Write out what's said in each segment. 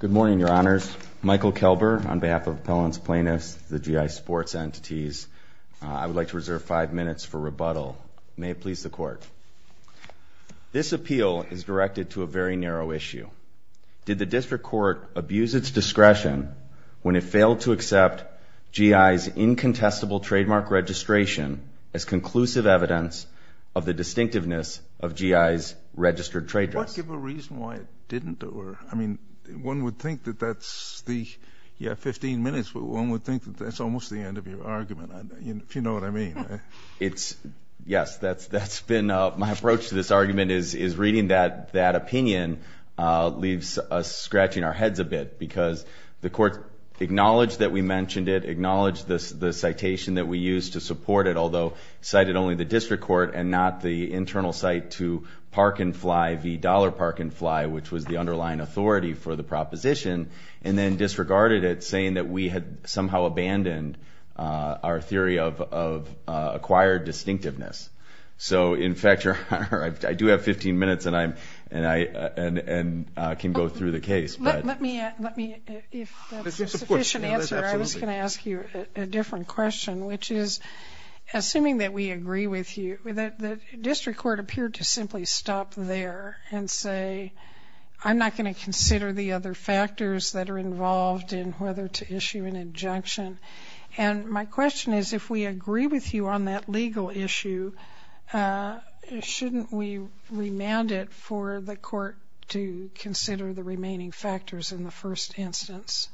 Good morning, Your Honors. Michael Kelber, on behalf of Appellants Plaintiffs, the GI sports entities. I would like to reserve five minutes for rebuttal. May it please the Court. This appeal is directed to a very narrow issue. Did the District Court abuse its discretion when it failed to accept GI's incontestable trademark registration as conclusive evidence of the distinctiveness of GI's registered trademarks? Does the Court give a reason why it didn't? I mean, one would think that that's the, yeah, 15 minutes, but one would think that that's almost the end of your argument, if you know what I mean. It's, yes, that's been, my approach to this argument is reading that opinion leaves us scratching our heads a bit because the Court acknowledged that we mentioned it, acknowledged the citation that we used to support it, although cited only the District Court and not the internal cite to Park and Fly v. Dollar Park and Fly, which was the underlying authority for the proposition, and then disregarded it saying that we had somehow abandoned our theory of acquired distinctiveness. So, in fact, Your Honor, I do have 15 minutes, and I can go through the case. Let me, if that's a sufficient answer. I was going to ask you a different question, which is, assuming that we agree with you, the District Court appeared to simply stop there and say, I'm not going to consider the other factors that are involved in whether to issue an injunction. And my question is, if we agree with you on that legal issue, shouldn't we remand it for the Court to consider the remaining factors in the first instance?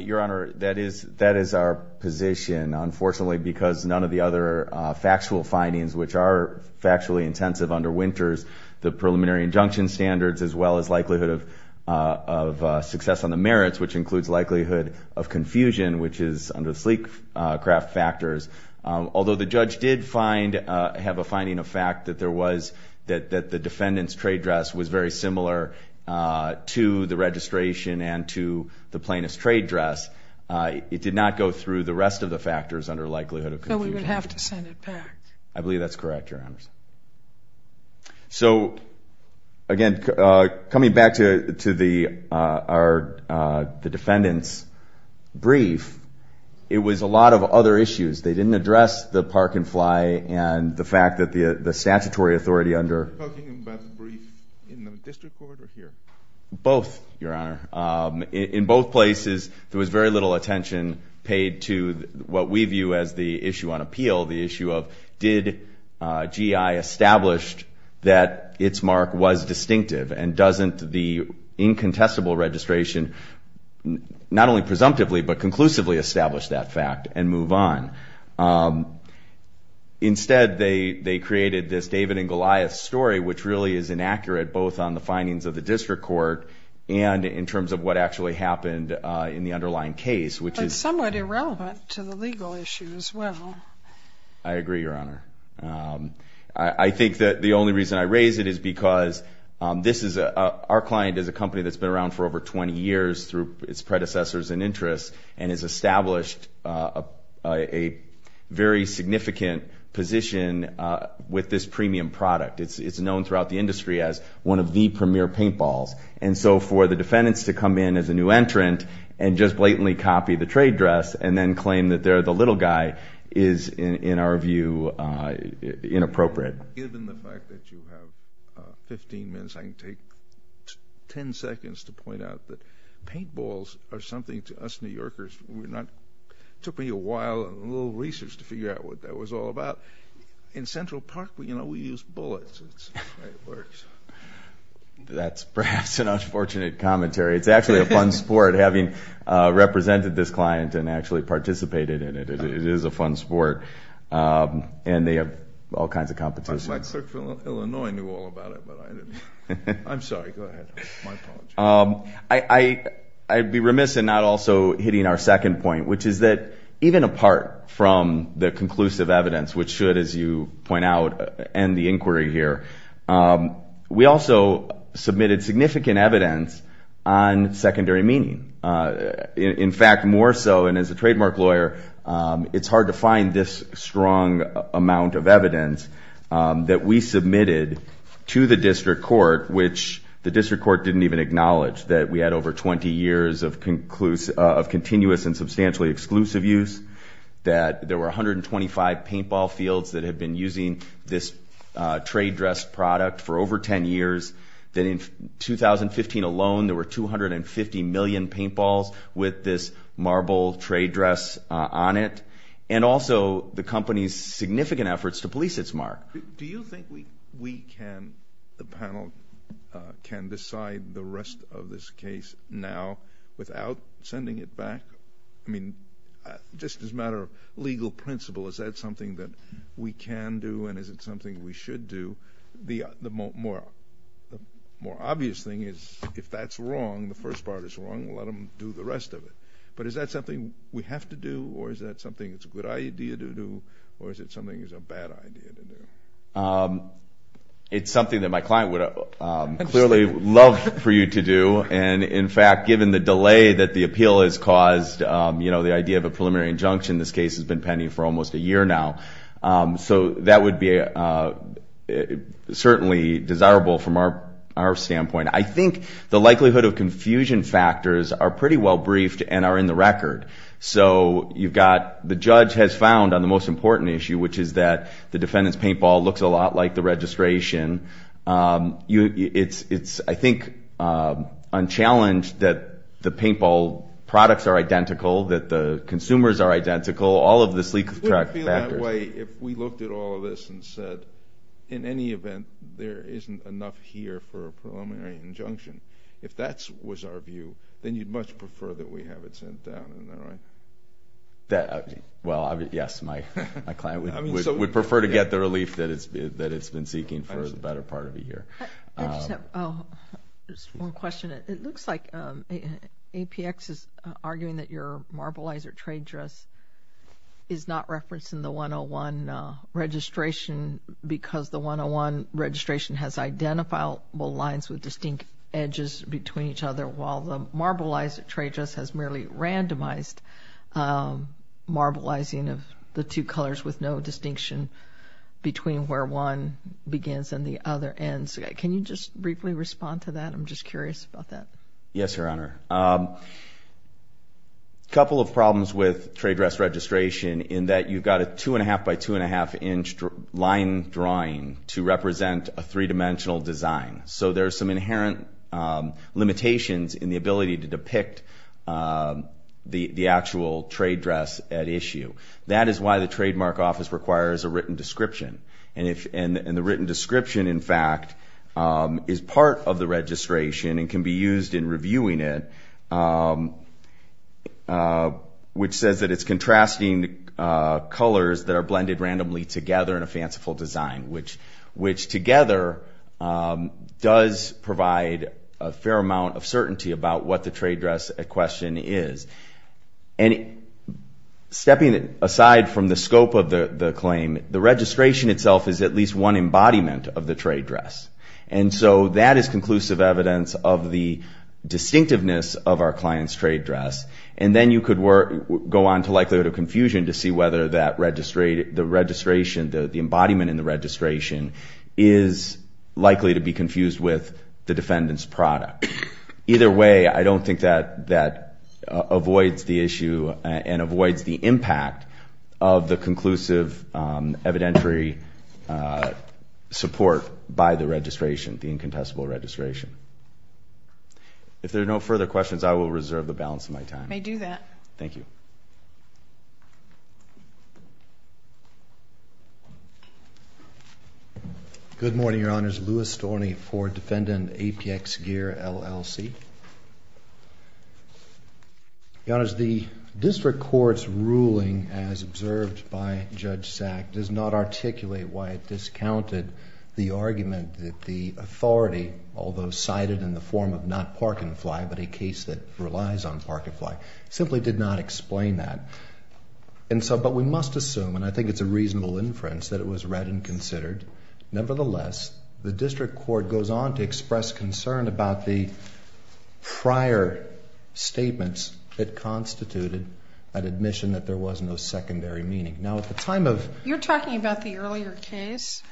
Your Honor, that is our position, unfortunately, because none of the other factual findings, which are factually intensive under Winters, the preliminary injunction standards, as well as likelihood of success on the merits, which includes likelihood of confusion, which is under the sleek craft factors. Although the judge did have a finding of fact that the defendant's trade dress was very similar to the registration and to the plaintiff's trade dress, it did not go through the rest of the factors under likelihood of confusion. So we would have to send it back. I believe that's correct, Your Honor. So, again, coming back to the defendant's brief, it was a lot of other issues. They didn't address the park-and-fly and the fact that the statutory authority under— Are you talking about the brief in the District Court or here? Both, Your Honor. In both places, there was very little attention paid to what we view as the issue on appeal, the issue of did GI establish that its mark was distinctive and doesn't the incontestable registration not only presumptively but conclusively establish that fact and move on? Instead, they created this David and Goliath story, which really is inaccurate both on the findings of the District Court and in terms of what actually happened in the underlying case, which is— But somewhat irrelevant to the legal issue as well. I agree, Your Honor. I think that the only reason I raise it is because this is a— our client is a company that's been around for over 20 years through its predecessors and interests and has established a very significant position with this premium product. It's known throughout the industry as one of the premier paintballs. And so for the defendants to come in as a new entrant and just blatantly copy the trade dress and then claim that they're the little guy is, in our view, inappropriate. Given the fact that you have 15 minutes, I can take 10 seconds to point out that paintballs are something to us New Yorkers. It took me a while and a little research to figure out what that was all about. In Central Park, you know, we use bullets. That's perhaps an unfortunate commentary. It's actually a fun sport, having represented this client and actually participated in it. It is a fun sport, and they have all kinds of competitions. My clerk from Illinois knew all about it, but I didn't. I'm sorry. Go ahead. My apologies. I'd be remiss in not also hitting our second point, which is that even apart from the conclusive evidence, which should, as you point out, end the inquiry here, we also submitted significant evidence on secondary meaning. In fact, more so, and as a trademark lawyer, it's hard to find this strong amount of evidence that we submitted to the district court, which the district court didn't even acknowledge, that we had over 20 years of continuous and substantially exclusive use, that there were 125 paintball fields that had been using this trade dress product for over 10 years, that in 2015 alone there were 250 million paintballs with this marble trade dress on it, and also the company's significant efforts to police its mark. Do you think we can, the panel, can decide the rest of this case now without sending it back? I mean, just as a matter of legal principle, is that something that we can do, and is it something we should do? The more obvious thing is if that's wrong, the first part is wrong, we'll let them do the rest of it. But is that something we have to do, or is that something that's a good idea to do, or is it something that's a bad idea to do? It's something that my client would clearly love for you to do, and in fact, given the delay that the appeal has caused, you know, the idea of a preliminary injunction, this case has been pending for almost a year now. So that would be certainly desirable from our standpoint. I think the likelihood of confusion factors are pretty well briefed and are in the record. So you've got the judge has found on the most important issue, which is that the defendant's paintball looks a lot like the registration. It's, I think, unchallenged that the paintball products are identical, that the consumers are identical, all of the sleek factors. I feel that way if we looked at all of this and said, in any event, there isn't enough here for a preliminary injunction. If that was our view, then you'd much prefer that we have it sent down, isn't that right? Well, yes, my client would prefer to get the relief that it's been seeking for the better part of a year. I just have one question. It looks like APX is arguing that your marbleizer trade dress is not referenced in the 101 registration because the 101 registration has identifiable lines with distinct edges between each other, while the marbleizer trade dress has merely randomized marbleizing of the two colors with no distinction between where one begins and the other ends. Can you just briefly respond to that? I'm just curious about that. Yes, Your Honor. A couple of problems with trade dress registration in that you've got a two-and-a-half by two-and-a-half-inch line drawing to represent a three-dimensional design. So there are some inherent limitations in the ability to depict the actual trade dress at issue. That is why the Trademark Office requires a written description. And the written description, in fact, is part of the registration and can be used in reviewing it, which says that it's contrasting colors that are blended randomly together in a fanciful design, which together does provide a fair amount of certainty about what the trade dress at question is. And stepping aside from the scope of the claim, the registration itself is at least one embodiment of the trade dress. And so that is conclusive evidence of the distinctiveness of our client's trade dress. And then you could go on to likelihood of confusion to see whether the registration, the embodiment in the registration, is likely to be confused with the defendant's product. Either way, I don't think that avoids the issue and avoids the impact of the conclusive evidentiary support by the registration, the incontestable registration. If there are no further questions, I will reserve the balance of my time. I do that. Thank you. Good morning, Your Honors. Louis Storny, Ford Defendant, APX Gear, LLC. Your Honors, the district court's ruling, as observed by Judge Sack, does not articulate why it discounted the argument that the authority, although cited in the form of not park-and-fly but a case that relies on park-and-fly, simply did not explain that. And so, but we must assume, and I think it's a reasonable inference, that it was read and considered. Nevertheless, the district court goes on to express concern about the prior statements that constituted an admission that there was no secondary meaning. Now, at the time of... You're talking about the earlier case?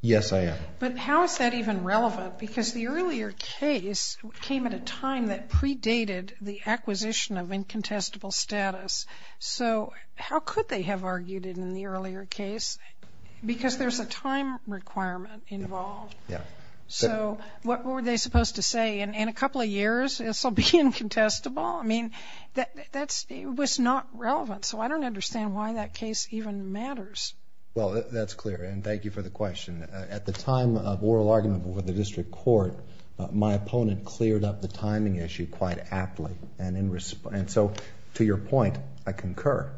Yes, I am. But how is that even relevant? Because the earlier case came at a time that predated the acquisition of incontestable status. So how could they have argued it in the earlier case? Because there's a time requirement involved. Yeah. So what were they supposed to say? In a couple of years, this will be incontestable? I mean, that was not relevant. So I don't understand why that case even matters. Well, that's clear. And thank you for the question. At the time of oral argument before the district court, my opponent cleared up the timing issue quite aptly. And so, to your point, I concur.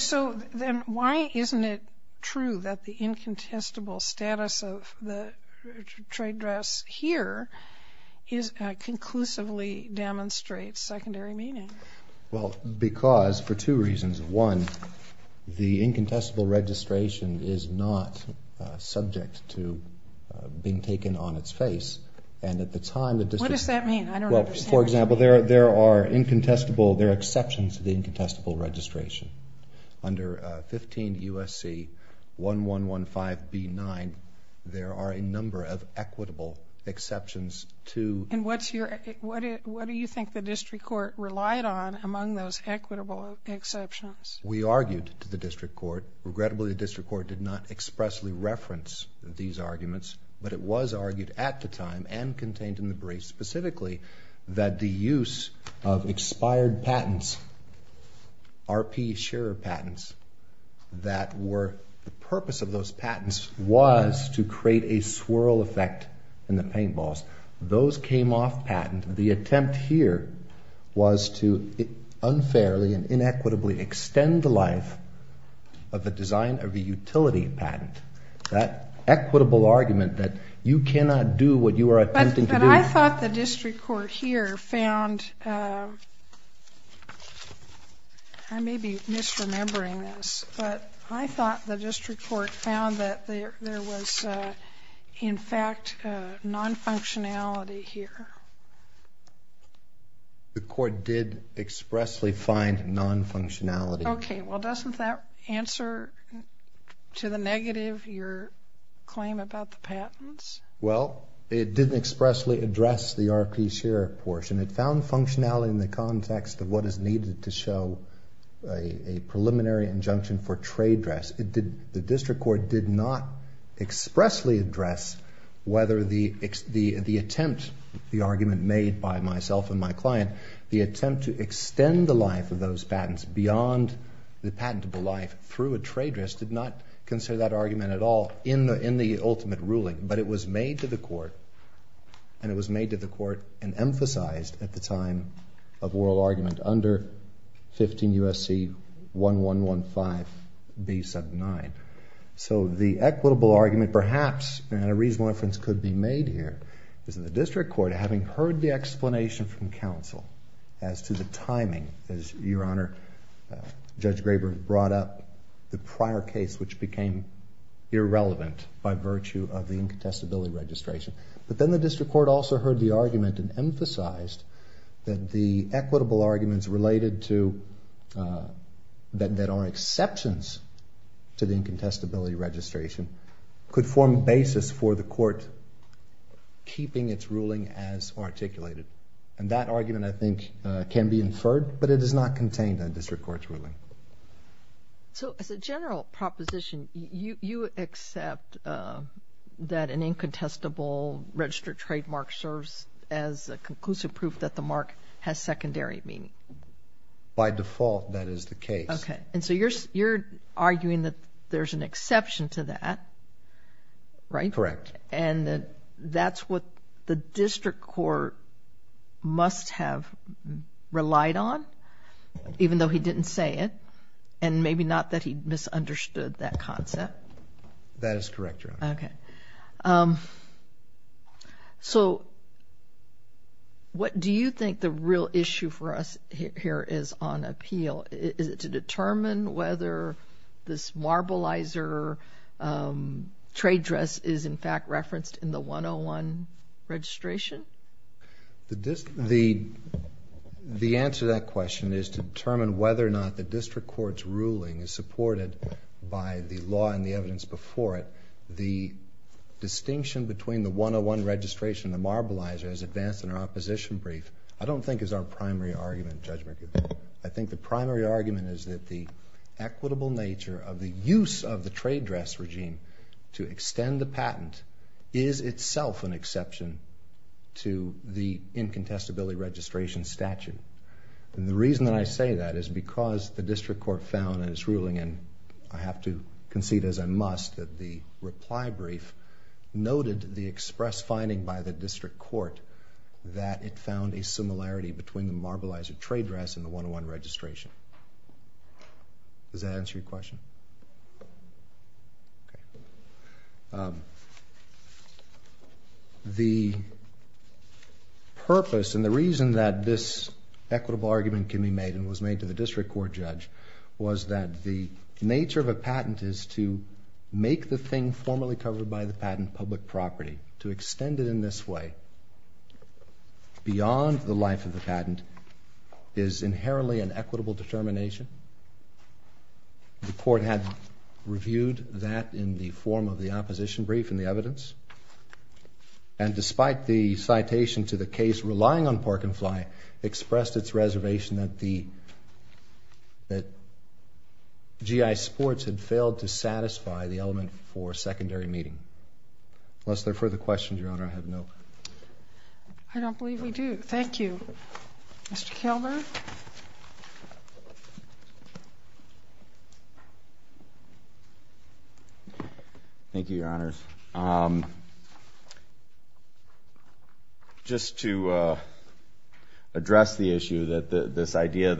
So then why isn't it true that the incontestable status of the trade dress here conclusively demonstrates secondary meaning? Well, because for two reasons. One, the incontestable registration is not subject to being taken on its face. And at the time the district... What does that mean? I don't understand. Well, for example, there are exceptions to the incontestable registration. Under 15 U.S.C. 1115B9, there are a number of equitable exceptions to... And what do you think the district court relied on among those equitable exceptions? We argued to the district court. Regrettably, the district court did not expressly reference these arguments. But it was argued at the time and contained in the brief specifically that the use of expired patents, RP share of patents, that were the purpose of those patents was to create a swirl effect in the paintballs. Those came off patent. The attempt here was to unfairly and inequitably extend the life of the design of a utility patent. That equitable argument that you cannot do what you are attempting to do... But I thought the district court here found... I may be misremembering this, but I thought the district court found that there was, in fact, non-functionality here. The court did expressly find non-functionality. Okay. Well, doesn't that answer to the negative, your claim about the patents? Well, it didn't expressly address the RP share portion. It found functionality in the context of what is needed to show a preliminary injunction for trade dress. The district court did not expressly address whether the attempt, the argument made by myself and my client, the attempt to extend the life of those patents beyond the patentable life through a trade dress, did not consider that argument at all in the ultimate ruling. But it was made to the court, and it was made to the court and emphasized at the time of oral argument under 15 U.S.C. 1115B79. So the equitable argument perhaps, and a reasonable inference could be made here, is that the district court, having heard the explanation from counsel as to the timing, as your Honor, Judge Graber brought up, the prior case which became irrelevant by virtue of the incontestability registration. But then the district court also heard the argument and emphasized that the equitable arguments related to, that are exceptions to the incontestability registration, could form a basis for the court keeping its ruling as articulated. And that argument, I think, can be inferred, but it is not contained in district court's ruling. So as a general proposition, you accept that an incontestable registered trademark serves as a conclusive proof that the mark has secondary meaning? By default, that is the case. Okay. And so you're arguing that there's an exception to that, right? Correct. And that that's what the district court must have relied on, even though he didn't say it, and maybe not that he misunderstood that concept? That is correct, Your Honor. Okay. So what do you think the real issue for us here is on appeal? Is it to determine whether this marbleizer trade dress is, in fact, referenced in the 101 registration? The answer to that question is to determine whether or not the district court's ruling is supported by the law and the evidence before it. The distinction between the 101 registration and the marbleizer is advanced in our opposition brief, I don't think is our primary argument, Judge McGovern. I think the primary argument is that the equitable nature of the use of the trade dress regime to extend the patent is itself an exception to the incontestability registration statute. And the reason that I say that is because the district court found in its ruling, and I have to concede, as I must, that the reply brief noted the express finding by the district court that it found a similarity between the marbleizer trade dress and the 101 registration. Does that answer your question? Okay. The purpose and the reason that this equitable argument can be made and was made to the district court judge was that the nature of a patent is to make the thing formally covered by the patent public property, to extend it in this way beyond the life of the patent is inherently an equitable determination. The court had reviewed that in the form of the opposition brief and the evidence, and despite the citation to the case relying on pork and fly, expressed its reservation that the GI sports had failed to satisfy the element for secondary meeting. Unless there are further questions, Your Honor, I have no further questions. I don't believe we do. Thank you. Mr. Kilburn? Thank you, Your Honors. Just to address the issue that this idea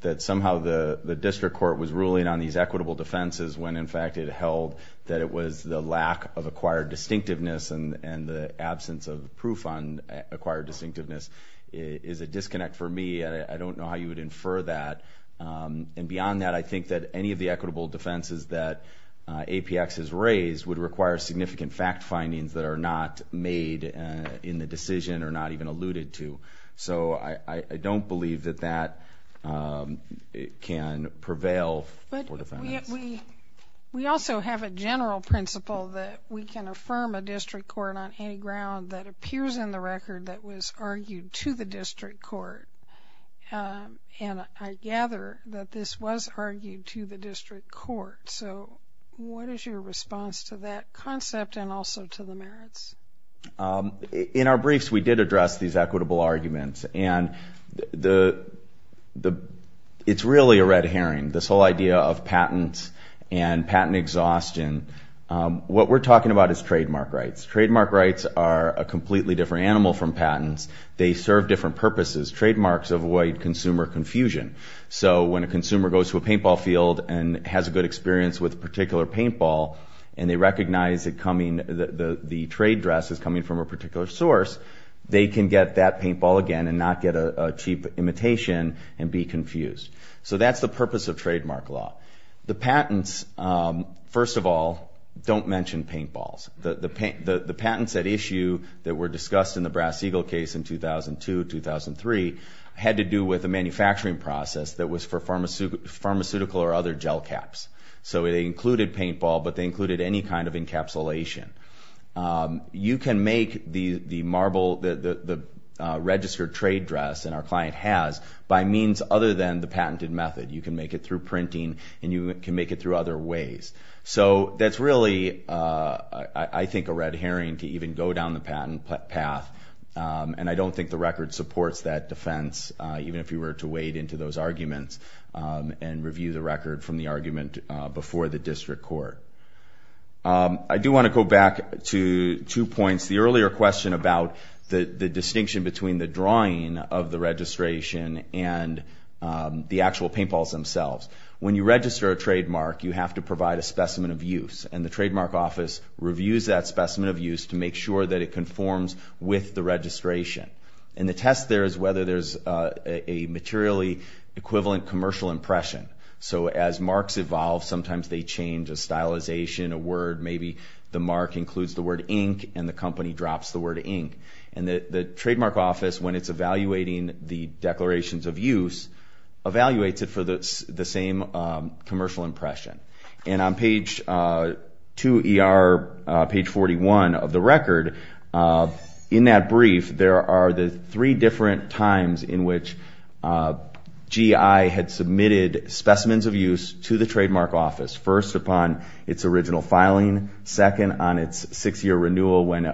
that somehow the district court was ruling on these equitable defenses when in fact it held that it was the lack of acquired distinctiveness and the absence of proof on acquired distinctiveness is a disconnect for me. I don't know how you would infer that. And beyond that, I think that any of the equitable defenses that APX has raised would require significant fact findings that are not made in the decision or not even alluded to. So I don't believe that that can prevail for defense. We also have a general principle that we can affirm a district court on any ground that appears in the record that was argued to the district court, and I gather that this was argued to the district court. So what is your response to that concept and also to the merits? In our briefs, we did address these equitable arguments, and it's really a red herring, this whole idea of patent and patent exhaustion. What we're talking about is trademark rights. Trademark rights are a completely different animal from patents. They serve different purposes. Trademarks avoid consumer confusion. So when a consumer goes to a paintball field and has a good experience with a particular paintball and they recognize that the trade dress is coming from a particular source, they can get that paintball again and not get a cheap imitation and be confused. So that's the purpose of trademark law. The patents, first of all, don't mention paintballs. The patents at issue that were discussed in the Brass Eagle case in 2002, 2003, had to do with a manufacturing process that was for pharmaceutical or other gel caps. So they included paintball, but they included any kind of encapsulation. You can make the registered trade dress, and our client has, by means other than the patented method. You can make it through printing, and you can make it through other ways. So that's really, I think, a red herring to even go down the patent path, and I don't think the record supports that defense, even if you were to wade into those arguments and review the record from the argument before the district court. I do want to go back to two points. The earlier question about the distinction between the drawing of the registration and the actual paintballs themselves. When you register a trademark, you have to provide a specimen of use, and the Trademark Office reviews that specimen of use to make sure that it conforms with the registration. And the test there is whether there's a materially equivalent commercial impression. So as marks evolve, sometimes they change a stylization, a word, maybe the mark includes the word ink and the company drops the word ink. And the Trademark Office, when it's evaluating the declarations of use, evaluates it for the same commercial impression. And on page 2ER, page 41 of the record, in that brief, there are the three different times in which GI had submitted specimens of use to the Trademark Office. First, upon its original filing. Second, on its six-year renewal when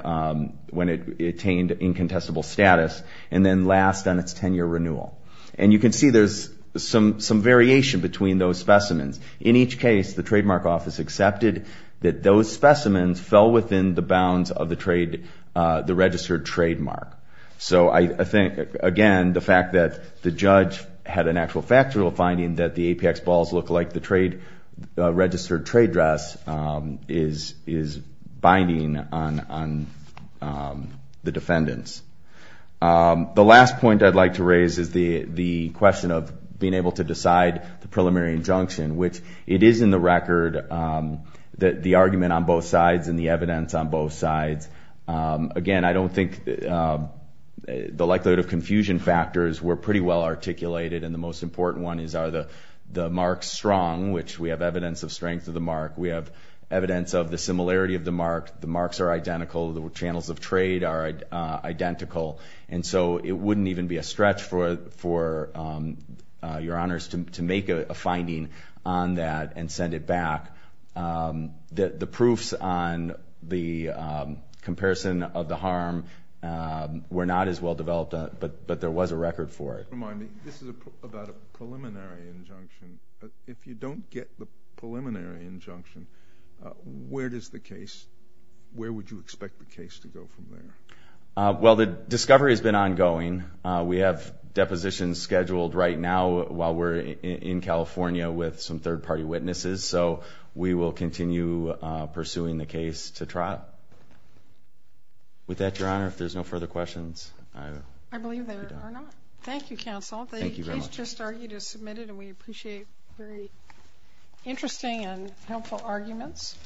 it attained incontestable status. And then last, on its 10-year renewal. And you can see there's some variation between those specimens. In each case, the Trademark Office accepted that those specimens fell within the bounds of the registered trademark. So I think, again, the fact that the judge had an actual factual finding that the APX balls look like the registered trade dress is binding on the defendants. The last point I'd like to raise is the question of being able to decide the preliminary injunction, which it is in the record that the argument on both sides and the evidence on both sides. Again, I don't think the likelihood of confusion factors were pretty well articulated, and the most important one is are the marks strong, which we have evidence of strength of the mark. We have evidence of the similarity of the mark. The marks are identical. The channels of trade are identical. And so it wouldn't even be a stretch for your honors to make a finding on that and send it back. The proofs on the comparison of the harm were not as well developed, but there was a record for it. Remind me, this is about a preliminary injunction. If you don't get the preliminary injunction, where does the case, where would you expect the case to go from there? Well, the discovery has been ongoing. We have depositions scheduled right now while we're in California with some third-party witnesses, so we will continue pursuing the case to trial. With that, Your Honor, if there's no further questions. I believe there are not. Thank you, Counsel. Thank you very much. The case just argued is submitted, and we appreciate very interesting and helpful arguments.